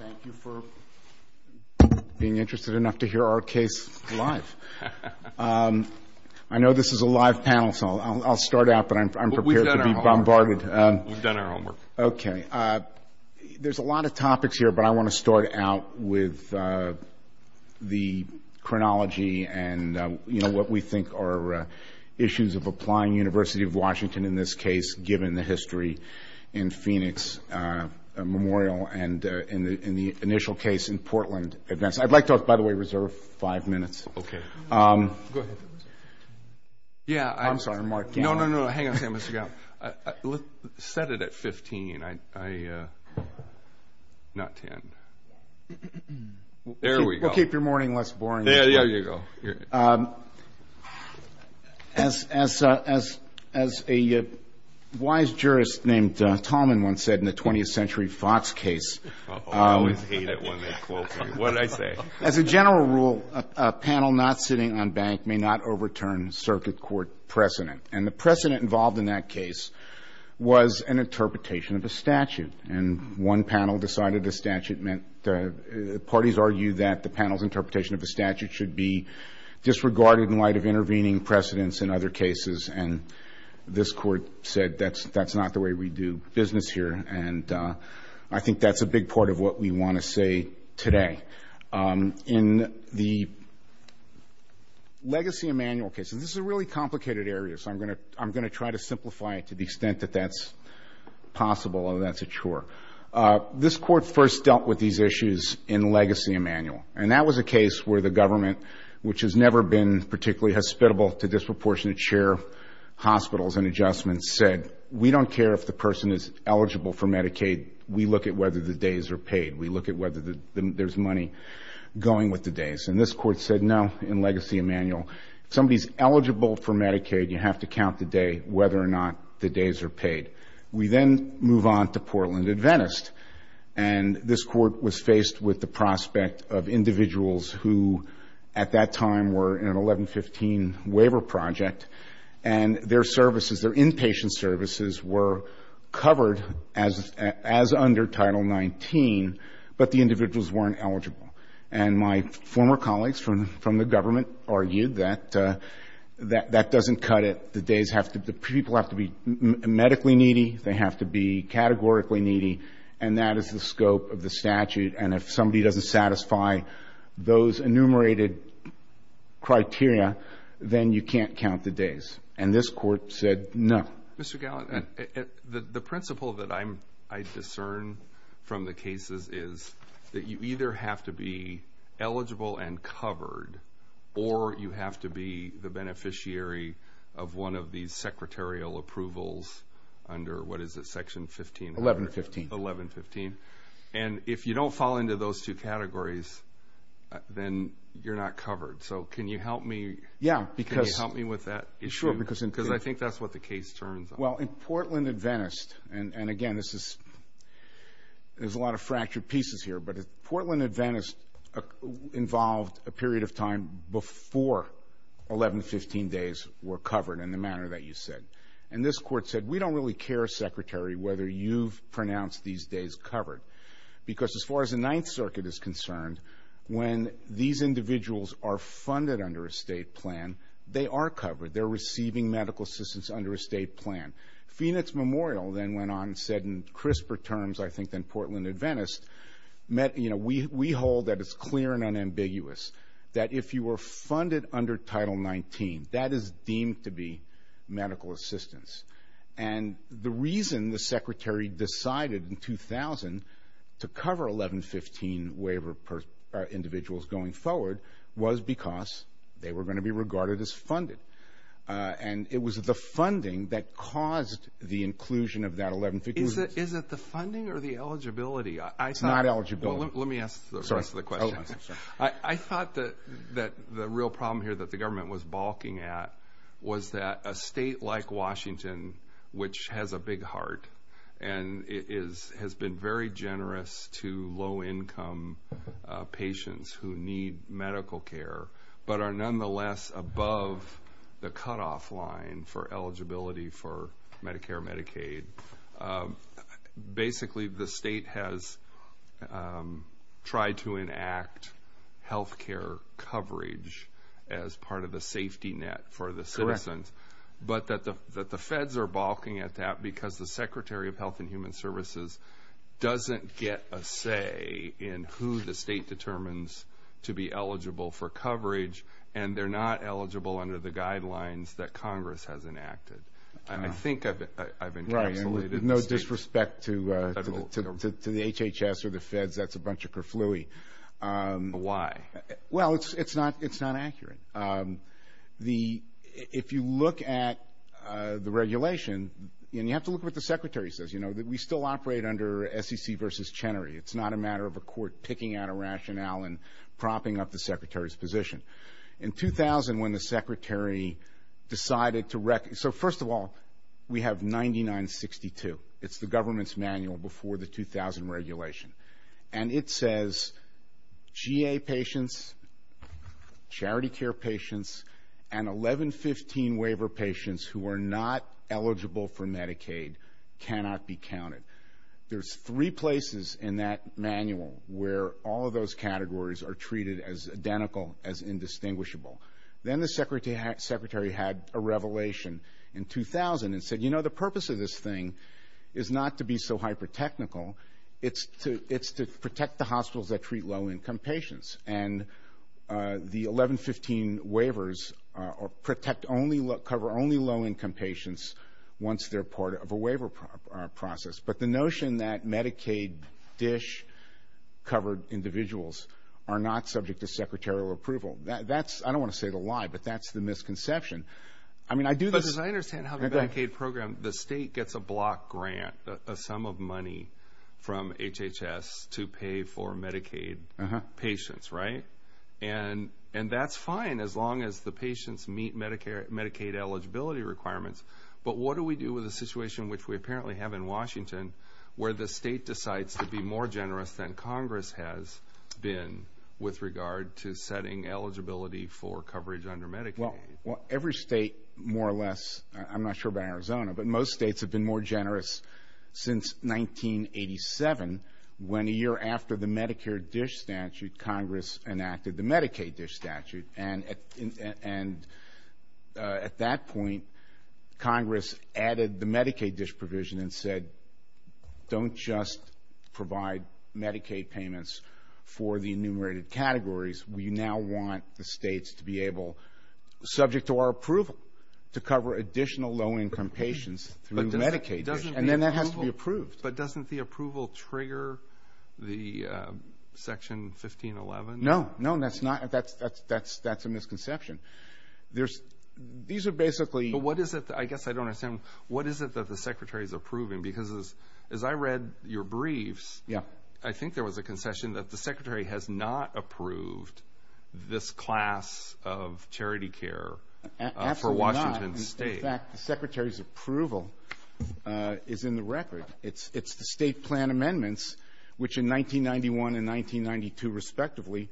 Thank you for being interested enough to hear our case live. I know this is a live panel, so I'll start out, but I'm prepared to be bombarded. We've done our homework. Okay. There's a lot of topics here, but I want to start out with the chronology and what we think are issues of applying University of Washington, and in this case, given the history in Phoenix Memorial and in the initial case in Portland. I'd like to, by the way, reserve five minutes. Okay. Go ahead. I'm sorry, Mark. No, no, no. Hang on a second. Set it at 15, not 10. There we go. We'll keep your morning less boring. There you go. As a wise jurist named Tolman once said in the 20th Century Fox case. I always hate it when they quote me. What did I say? As a general rule, a panel not sitting on bank may not overturn circuit court precedent, and the precedent involved in that case was an interpretation of a statute, and one panel decided the statute meant the parties argued that the panel's interpretation of the statute should be disregarded in light of intervening precedents in other cases, and this court said that's not the way we do business here, and I think that's a big part of what we want to say today. In the legacy of manual cases, this is a really complicated area, so I'm going to try to simplify it to the extent that that's possible, although that's a chore. This court first dealt with these issues in legacy of manual, and that was a case where the government, which has never been particularly hospitable to disproportionate share of hospitals and adjustments, said, we don't care if the person is eligible for Medicaid. We look at whether the days are paid. We look at whether there's money going with the days, and this court said no in legacy of manual. If somebody's eligible for Medicaid, you have to count the day, whether or not the days are paid. We then move on to Portland and Venice, and this court was faced with the prospect of individuals who, at that time, were in an 1115 waiver project, and their services, their inpatient services were covered as under Title XIX, but the individuals weren't eligible. And my former colleagues from the government argued that that doesn't cut it. The days have to be – people have to be medically needy, they have to be categorically needy, and that is the scope of the statute, and if somebody doesn't satisfy those enumerated criteria, then you can't count the days. And this court said no. Mr. Gallant, the principle that I discern from the cases is that you either have to be eligible and covered or you have to be the beneficiary of one of these secretarial approvals under, what is it, Section 15? 1115. 1115. And if you don't fall into those two categories, then you're not covered. So can you help me? Yeah, because – Can you help me with that issue? Sure, because in – Because I think that's what the case turns on. Well, in Portland and Venice, and again, this is – there's a lot of fractured pieces here, but Portland and Venice involved a period of time before 1115 days were covered in the manner that you said. And this court said we don't really care, Secretary, whether you've pronounced these days covered, because as far as the Ninth Circuit is concerned, when these individuals are funded under a state plan, they are covered. They're receiving medical assistance under a state plan. Phoenix Memorial then went on and said in crisper terms, I think, than Portland and Venice, you know, we hold that it's clear and unambiguous that if you were funded under Title 19, that is deemed to be medical assistance. And the reason the Secretary decided in 2000 to cover 1115 waiver individuals going forward was because they were going to be regarded as funded. And it was the funding that caused the inclusion of that 1115 waiver. Is it the funding or the eligibility? It's not eligibility. Well, let me ask the rest of the question. I thought that the real problem here that the government was balking at was that a state like Washington, which has a big heart and has been very generous to low-income patients who need medical care, but are nonetheless above the cutoff line for eligibility for Medicare and Medicaid, basically the state has tried to enact health care coverage as part of the safety net for the citizens, but that the feds are balking at that because the Secretary of Health and Human Services doesn't get a say in who the state determines to be eligible for coverage, and they're not eligible under the guidelines that Congress has enacted. And I think I've encapsulated the state. Right, and with no disrespect to the HHS or the feds, that's a bunch of kerfluie. Why? Well, it's not accurate. If you look at the regulation, and you have to look at what the Secretary says, you know, we still operate under SEC versus Chenery. It's not a matter of a court picking out a rationale and propping up the Secretary's position. In 2000, when the Secretary decided to, so first of all, we have 9962. It's the government's manual before the 2000 regulation. And it says GA patients, charity care patients, and 1115 waiver patients who are not eligible for Medicaid cannot be counted. There's three places in that manual where all of those categories are treated as identical, as indistinguishable. Then the Secretary had a revelation in 2000 and said, you know, the purpose of this thing is not to be so hyper-technical. It's to protect the hospitals that treat low-income patients. And the 1115 waivers cover only low-income patients once they're part of a waiver process. But the notion that Medicaid dish-covered individuals are not subject to secretarial approval, that's, I don't want to say the lie, but that's the misconception. But as I understand how the Medicaid program, the state gets a block grant, a sum of money from HHS to pay for Medicaid patients, right? And that's fine as long as the patients meet Medicaid eligibility requirements. But what do we do with a situation which we apparently have in Washington where the state decides to be more generous than Congress has been with regard to setting eligibility for coverage under Medicaid? Well, every state more or less, I'm not sure about Arizona, but most states have been more generous since 1987, when a year after the Medicare dish statute, Congress enacted the Medicaid dish statute. And at that point, Congress added the Medicaid dish provision and said, don't just provide Medicaid payments for the enumerated categories. We now want the states to be able, subject to our approval, to cover additional low-income patients through Medicaid dish. And then that has to be approved. But doesn't the approval trigger the Section 1511? No, no, that's not, that's a misconception. There's, these are basically. But what is it, I guess I don't understand, what is it that the Secretary is approving? Because as I read your briefs, I think there was a concession that the Secretary has not approved this class of charity care for Washington State. Absolutely not. In fact, the Secretary's approval is in the record. It's the state plan amendments, which in 1991 and 1992 respectively,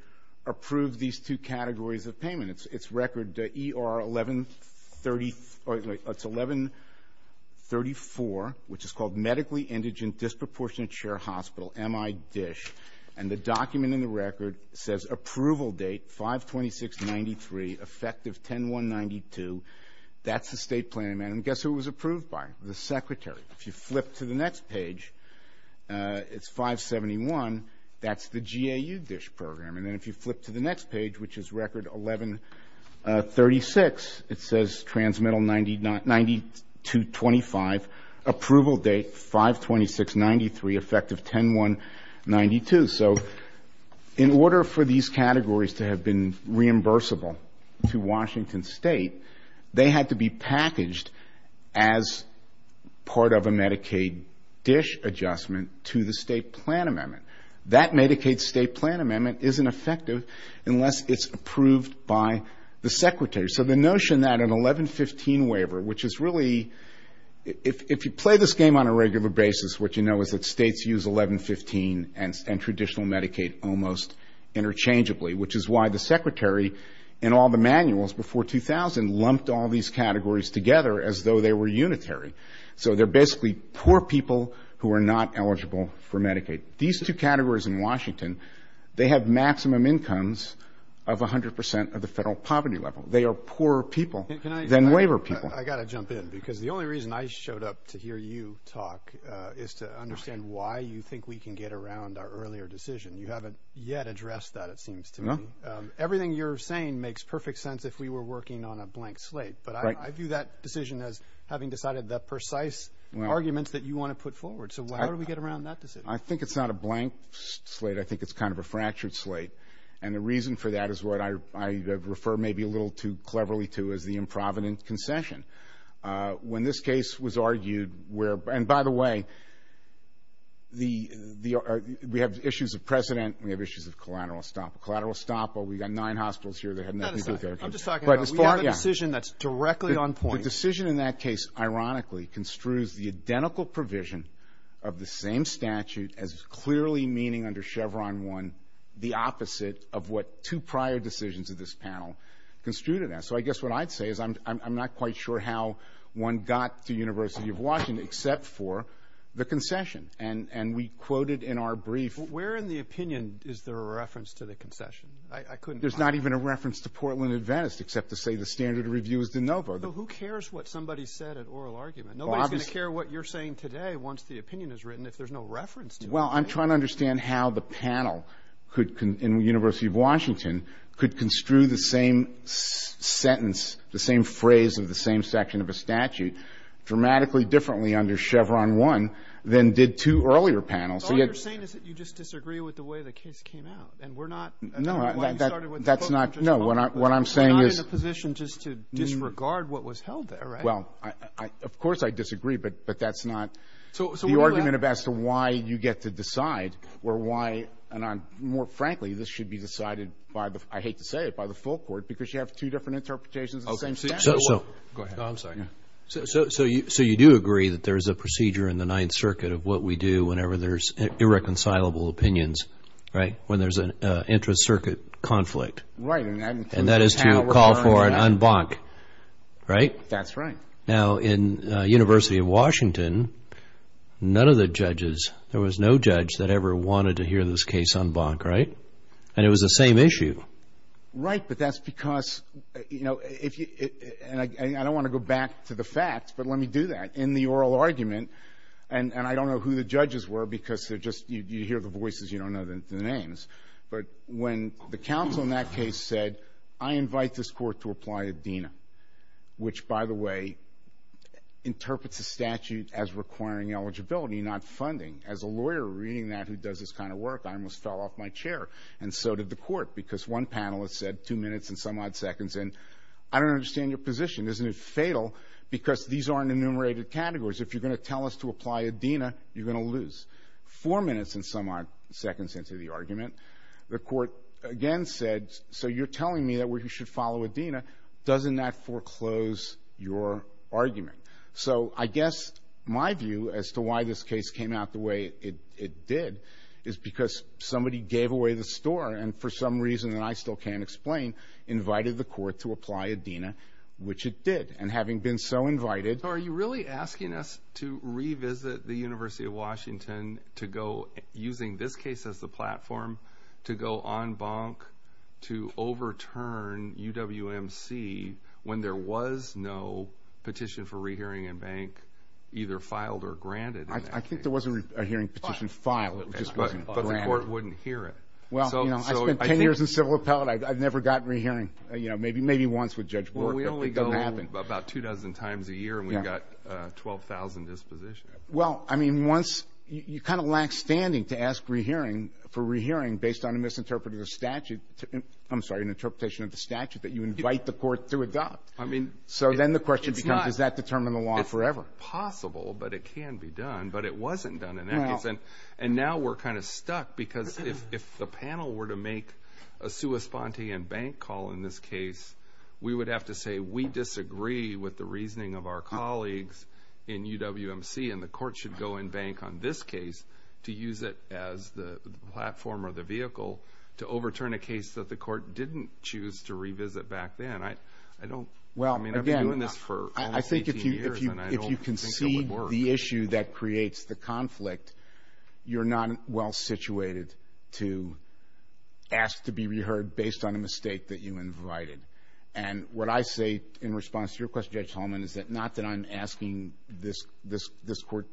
approved these two categories of payment. It's record ER 1130, or it's 1134, which is called medically indigent disproportionate share hospital, M.I. dish. And the document in the record says approval date 52693, effective 10192. That's the state plan amendment. And guess who it was approved by? The Secretary. If you flip to the next page, it's 571. That's the GAU dish program. And then if you flip to the next page, which is record 1136, it says transmittal 9225, approval date 52693, effective 10192. So in order for these categories to have been reimbursable to Washington State, they had to be packaged as part of a Medicaid dish adjustment to the state plan amendment. That Medicaid state plan amendment isn't effective unless it's approved by the Secretary. So the notion that an 1115 waiver, which is really, if you play this game on a regular basis, what you know is that states use 1115 and traditional Medicaid almost interchangeably, which is why the Secretary, in all the manuals before 2000, lumped all these categories together as though they were unitary. So they're basically poor people who are not eligible for Medicaid. These two categories in Washington, they have maximum incomes of 100 percent of the federal poverty level. They are poorer people than waiver people. I've got to jump in because the only reason I showed up to hear you talk is to understand why you think we can get around our earlier decision. You haven't yet addressed that, it seems to me. Everything you're saying makes perfect sense if we were working on a blank slate. But I view that decision as having decided the precise arguments that you want to put forward. So how do we get around that decision? I think it's not a blank slate. I think it's kind of a fractured slate. And the reason for that is what I refer maybe a little too cleverly to as the improvident concession. When this case was argued where, and by the way, we have issues of precedent, we have issues of collateral estoppel. Collateral estoppel, we've got nine hospitals here that have nothing to do with Medicaid. I'm just talking about we have a decision that's directly on point. The decision in that case, ironically, construes the identical provision of the same statute as clearly meaning under Chevron 1 the opposite of what two prior decisions of this panel construed it as. So I guess what I'd say is I'm not quite sure how one got to University of Washington except for the concession. And we quoted in our brief. Where in the opinion is there a reference to the concession? There's not even a reference to Portland and Venice except to say the standard review is de novo. Who cares what somebody said at oral argument? Nobody's going to care what you're saying today once the opinion is written if there's no reference to it. Well, I'm trying to understand how the panel in University of Washington could construe the same sentence, the same phrase of the same section of a statute dramatically differently under Chevron 1 than did two earlier panels. So all you're saying is that you just disagree with the way the case came out. And we're not. No, that's not. We're not in a position just to disregard what was held there, right? Well, of course I disagree. But that's not the argument as to why you get to decide or why. And more frankly, this should be decided by the I hate to say it, by the full court, because you have two different interpretations of the same statute. Go ahead. I'm sorry. So you do agree that there is a procedure in the Ninth Circuit of what we do whenever there's irreconcilable opinions, right, when there's an intra-circuit conflict. Right. And that is to call for an en banc, right? That's right. Now, in University of Washington, none of the judges, there was no judge that ever wanted to hear this case en banc, right? And it was the same issue. Right. But that's because, you know, and I don't want to go back to the facts, but let me do that. In the oral argument, and I don't know who the judges were because they're just you hear the voices, you don't know the names. But when the counsel in that case said, I invite this court to apply a DINA, which, by the way, interprets the statute as requiring eligibility, not funding. As a lawyer reading that who does this kind of work, I almost fell off my chair. And so did the court, because one panelist said two minutes and some odd seconds. And I don't understand your position. Isn't it fatal? Because these aren't enumerated categories. If you're going to tell us to apply a DINA, you're going to lose. Four minutes and some odd seconds into the argument, the court again said, so you're telling me that we should follow a DINA. Doesn't that foreclose your argument? So I guess my view as to why this case came out the way it did is because somebody gave away the store and for some reason, and I still can't explain, invited the court to apply a DINA, which it did. And having been so invited. Are you really asking us to revisit the University of Washington to go, using this case as the platform, to go en banc to overturn UWMC when there was no petition for rehearing and bank either filed or granted? I think there was a hearing petition filed. But the court wouldn't hear it. Well, you know, I spent 10 years in civil appellate. I've never gotten rehearing, you know, maybe once with Judge Bork. We only go about two dozen times a year and we've got 12,000 dispositions. Well, I mean, once you kind of lack standing to ask for rehearing based on a misinterpreted statute. I'm sorry, an interpretation of the statute that you invite the court to adopt. I mean. So then the question becomes, does that determine the law forever? It's possible, but it can be done. But it wasn't done in that case. And now we're kind of stuck because if the panel were to make a sua sponte and bank call in this case, we would have to say we disagree with the reasoning of our colleagues in UWMC and the court should go en banc on this case to use it as the platform or the vehicle to overturn a case that the court didn't choose to revisit back then. I don't. Well, again, I think if you concede the issue that creates the conflict, you're not well situated to ask to be reheard based on a mistake that you invited. And what I say in response to your question, Judge Holman, is that not that I'm asking this court.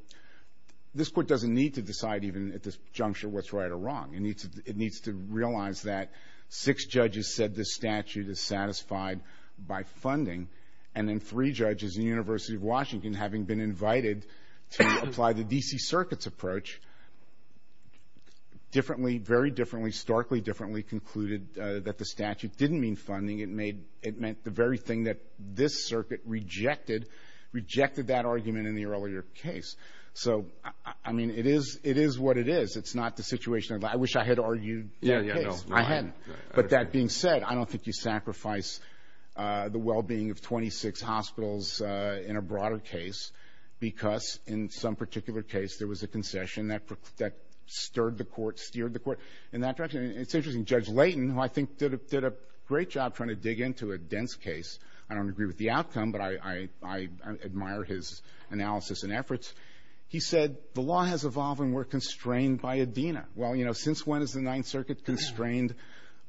This court doesn't need to decide even at this juncture what's right or wrong. It needs to realize that six judges said this statute is satisfied by funding, and then three judges in the University of Washington, having been invited to apply the D.C. Circuit's approach, differently, very differently, starkly differently concluded that the statute didn't mean funding. It meant the very thing that this circuit rejected, rejected that argument in the earlier case. So, I mean, it is what it is. It's not the situation. I wish I had argued that case. I hadn't. But that being said, I don't think you sacrifice the well-being of 26 hospitals in a broader case because in some particular case there was a concession that stirred the court, steered the court in that direction. It's interesting. Judge Layton, who I think did a great job trying to dig into a dense case, I don't agree with the outcome, but I admire his analysis and efforts. He said the law has evolved and we're constrained by ADENA. Well, you know, since when is the Ninth Circuit constrained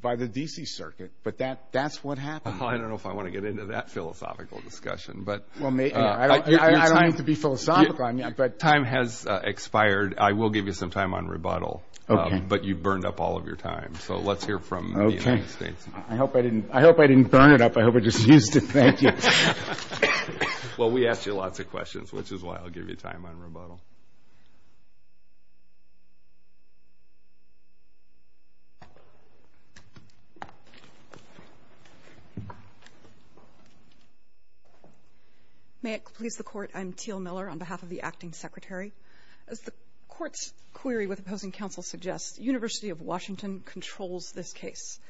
by the D.C. Circuit? But that's what happened. I don't know if I want to get into that philosophical discussion. I don't mean to be philosophical on you, but time has expired. I will give you some time on rebuttal, but you burned up all of your time. So let's hear from the United States. I hope I didn't burn it up. I hope I just used it. Thank you. Well, we asked you lots of questions, which is why I'll give you time on rebuttal. May it please the Court, I'm Teal Miller on behalf of the Acting Secretary. As the Court's query with opposing counsel suggests, University of Washington controls this case.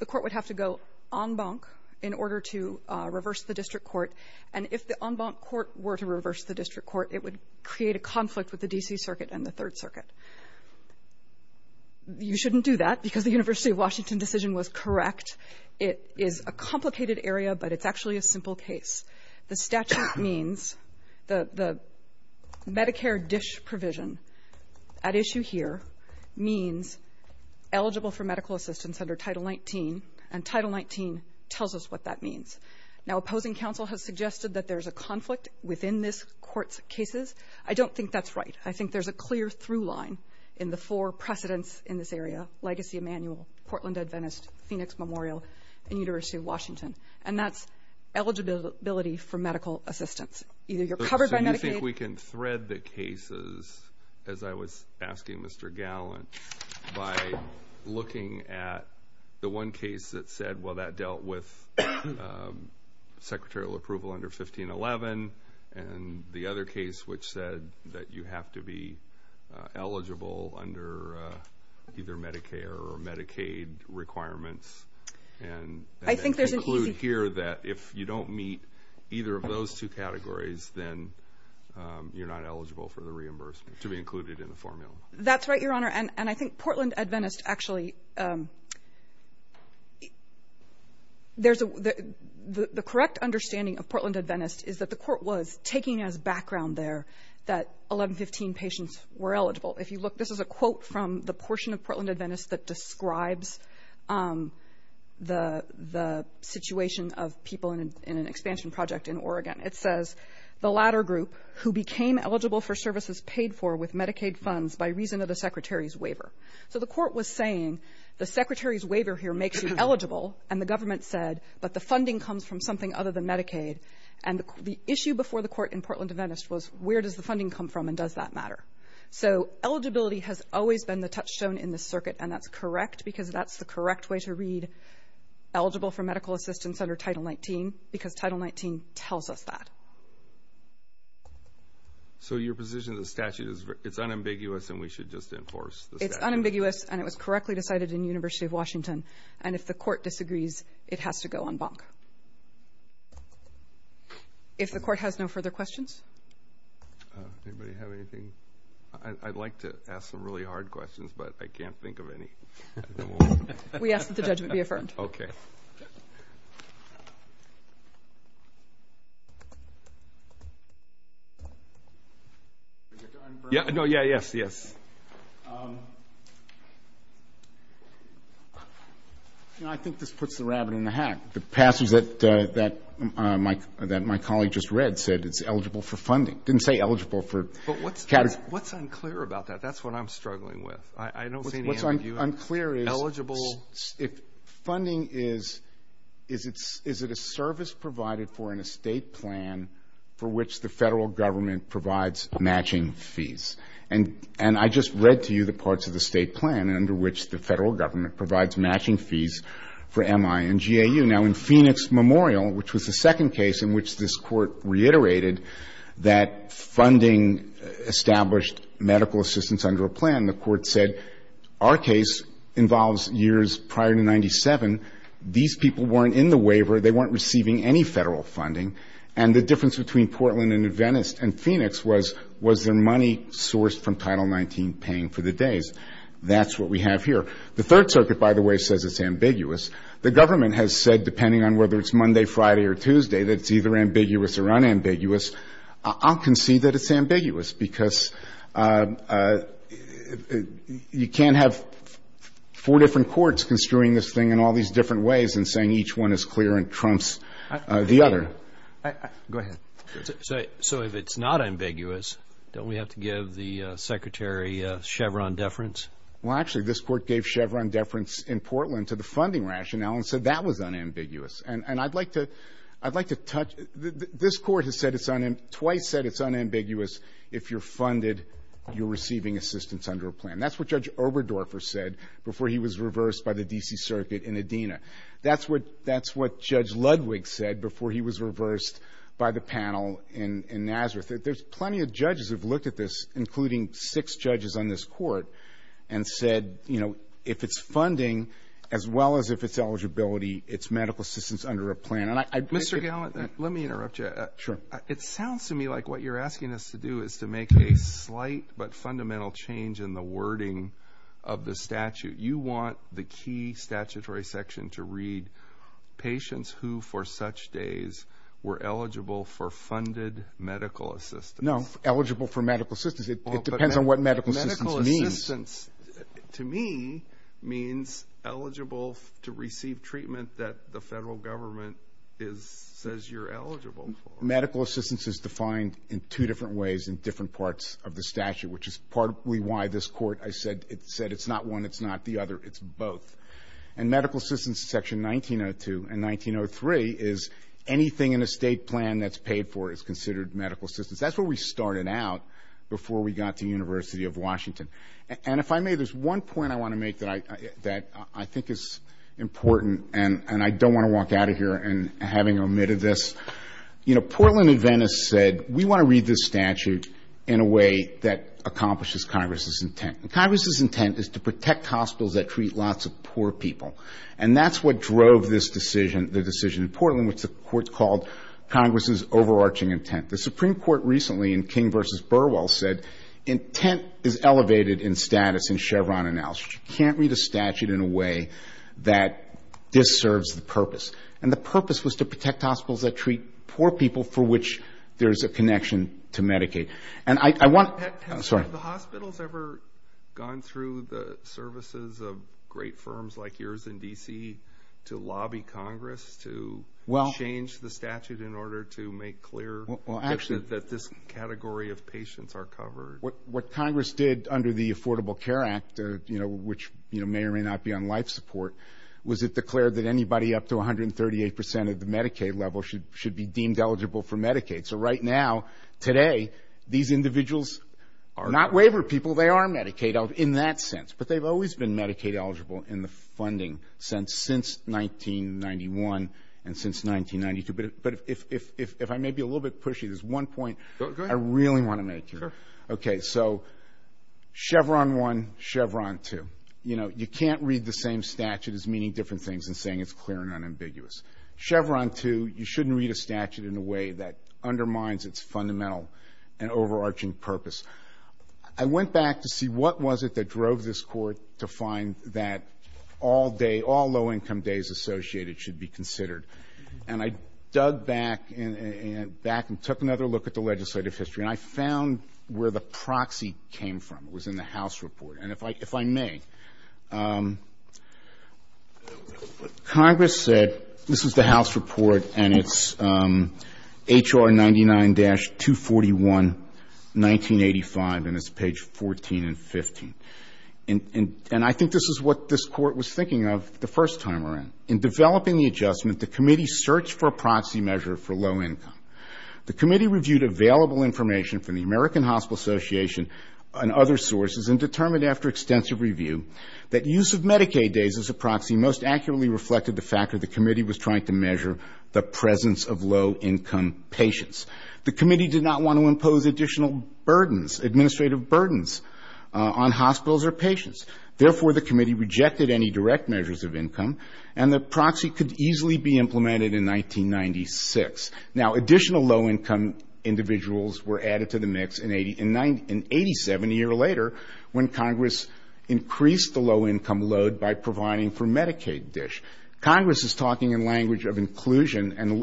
The Court would have to go en banc in order to reverse the district court. And if the en banc court were to reverse the district court, it would create a conflict with the D.C. Circuit and the Third Circuit. You shouldn't do that because the University of Washington decision was correct. It is a complicated area, but it's actually a simple case. The statute means the Medicare DISH provision at issue here means eligible for medical assistance under Title 19, and Title 19 tells us what that means. Now, opposing counsel has suggested that there's a conflict within this Court's cases. I don't think that's right. I think there's a clear through line in the four precedents in this area, Legacy Emanuel, Portland Adventist, Phoenix Memorial, and University of Washington, and that's eligibility for medical assistance. Either you're covered by Medicaid. I think we can thread the cases, as I was asking Mr. Gallant, by looking at the one case that said, well, that dealt with secretarial approval under 1511, and the other case which said that you have to be eligible under either Medicare or Medicaid requirements. I think there's an easy... And conclude here that if you don't meet either of those two categories, then you're not eligible for the reimbursement, to be included in the formula. That's right, Your Honor, and I think Portland Adventist actually, the correct understanding of Portland Adventist is that the Court was taking as background there that 1115 patients were eligible. If you look, this is a quote from the portion of Portland Adventist that describes the situation of people in an expansion project in Oregon. It says, the latter group, who became eligible for services paid for with Medicaid funds by reason of the Secretary's waiver. So the Court was saying, the Secretary's waiver here makes you eligible, and the government said, but the funding comes from something other than Medicaid. And the issue before the Court in Portland Adventist was, where does the funding come from, and does that matter? So eligibility has always been the touchstone in this circuit, and that's correct, because that's the correct way to read eligible for medical assistance under Title XIX, because Title XIX tells us that. So your position is the statute is unambiguous, and we should just enforce the statute? It's unambiguous, and it was correctly decided in the University of Washington, and if the Court disagrees, it has to go on bonk. If the Court has no further questions? Anybody have anything? I'd like to ask some really hard questions, but I can't think of any. We ask that the judgment be affirmed. Okay. No, yeah, yes, yes. I think this puts the rabbit in the hat. The passage that my colleague just read said it's eligible for funding. It didn't say eligible for categories. But what's unclear about that? That's what I'm struggling with. I don't see any ambiguity. What's unclear is, if funding is, is it a service provided for in a state plan for which the federal government provides matching fees? And I just read to you the parts of the state plan under which the federal government provides matching fees for MI and GAU. Now, in Phoenix Memorial, which was the second case in which this Court reiterated that funding established medical assistance under a plan, the Court said, our case involves years prior to 97. These people weren't in the waiver. They weren't receiving any federal funding. And the difference between Portland and Phoenix was, was their money sourced from Title XIX paying for the days. That's what we have here. The Third Circuit, by the way, says it's ambiguous. The government has said, depending on whether it's Monday, Friday, or Tuesday, that it's either ambiguous or unambiguous. I'll concede that it's ambiguous because you can't have four different courts construing this thing in all these different ways and saying each one is clear and trumps the other. Go ahead. So if it's not ambiguous, don't we have to give the Secretary Chevron deference? Well, actually, this Court gave Chevron deference in Portland to the funding rationale and said that was unambiguous. And I'd like to, I'd like to touch, this Court has said it's, twice said it's unambiguous if you're funded, you're receiving assistance under a plan. That's what Judge Oberdorfer said before he was reversed by the D.C. Circuit in Adena. That's what, that's what Judge Ludwig said before he was reversed by the panel in Nazareth. There's plenty of judges who have looked at this, including six judges on this Court, and said, you know, if it's funding as well as if it's eligibility, it's medical assistance under a plan. Mr. Gallant, let me interrupt you. Sure. It sounds to me like what you're asking us to do is to make a slight but fundamental change in the wording of the statute. You want the key statutory section to read, patients who for such days were eligible for funded medical assistance. No, eligible for medical assistance. It depends on what medical assistance means. Medical assistance, to me, means eligible to receive treatment that the federal government is, says you're eligible for. Medical assistance is defined in two different ways in different parts of the statute, which is partly why this Court, I said, it said it's not one, it's not the other, it's both. And medical assistance, Section 1902 and 1903, is anything in a state plan that's paid for is considered medical assistance. That's where we started out before we got to the University of Washington. And if I may, there's one point I want to make that I think is important, and I don't want to walk out of here having omitted this. You know, Portland Adventists said, we want to read this statute in a way that accomplishes Congress's intent. Congress's intent is to protect hospitals that treat lots of poor people. And that's what drove this decision, the decision in Portland, which the Court called Congress's overarching intent. The Supreme Court recently in King v. Burwell said, intent is elevated in status in Chevron analysis. You can't read a statute in a way that disserves the purpose. And the purpose was to protect hospitals that treat poor people for which there's a connection to Medicaid. Have the hospitals ever gone through the services of great firms like yours in D.C. to lobby Congress to change the statute in order to make clear that this category of patients are covered? What Congress did under the Affordable Care Act, which may or may not be on life support, was it declared that anybody up to 138% of the Medicaid level should be deemed eligible for Medicaid. So right now, today, these individuals are not waiver people. They are Medicaid eligible in that sense. But they've always been Medicaid eligible in the funding sense since 1991 and since 1992. But if I may be a little bit pushy, there's one point I really want to make here. Sure. Okay. So Chevron 1, Chevron 2. You know, you can't read the same statute as meaning different things and saying it's clear and unambiguous. Chevron 2, you shouldn't read a statute in a way that undermines its fundamental and overarching purpose. I went back to see what was it that drove this Court to find that all day, all low-income days associated should be considered. And I dug back and took another look at the legislative history, and I found where the proxy came from. It was in the House report. And if I may, Congress said this is the House report, and it's H.R. 99-241, 1985, and it's page 14 and 15. And I think this is what this Court was thinking of the first time around. In developing the adjustment, the committee searched for a proxy measure for low income. The committee reviewed available information from the American Hospital Association and other sources and determined after extensive review that use of Medicaid days as a proxy most accurately reflected the fact that the committee was trying to measure the presence of low-income patients. The committee did not want to impose additional burdens, administrative burdens on hospitals or patients. Therefore, the committee rejected any direct measures of income, and the proxy could easily be implemented in 1996. Now, additional low-income individuals were added to the mix in 87, a year later, when Congress increased the low-income load by providing for Medicaid dish. Congress is talking in language of inclusion and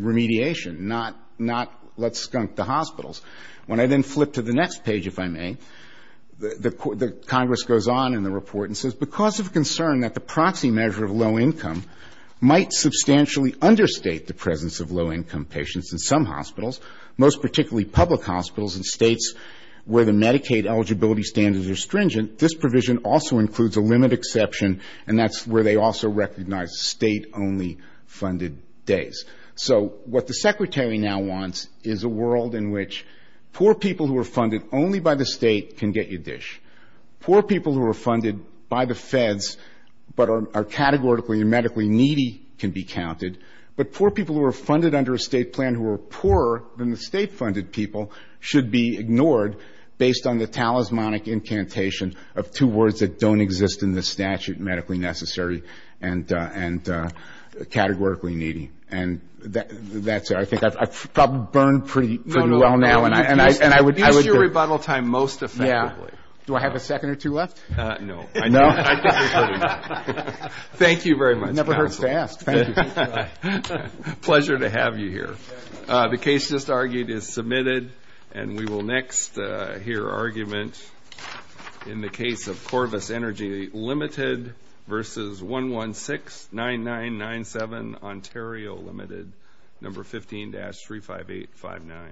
remediation, not let's skunk the hospitals. When I then flip to the next page, if I may, the Congress goes on in the report and says, because of concern that the proxy measure of low income might substantially understate the presence of low-income patients in some hospitals, most particularly public hospitals in states where the Medicaid eligibility standards are stringent, this provision also includes a limit exception, and that's where they also recognize State-only funded days. So what the Secretary now wants is a world in which poor people who are funded only by the State can get your dish. Poor people who are funded by the Feds but are categorically and medically needy can be counted, but poor people who are funded under a State plan who are poorer than the State-funded people should be ignored based on the talismanic incantation of two words that don't exist in the statute, medically necessary and categorically needy. And that's it. I think I've probably burned pretty well now. And I would be ---- Do I have a second or two left? No. No? I think we're good. Thank you very much. It never hurts to ask. Thank you. Pleasure to have you here. The case just argued is submitted, and we will next hear argument in the case of Corvus Energy Limited versus 116-9997 Ontario Limited, number 15-35859.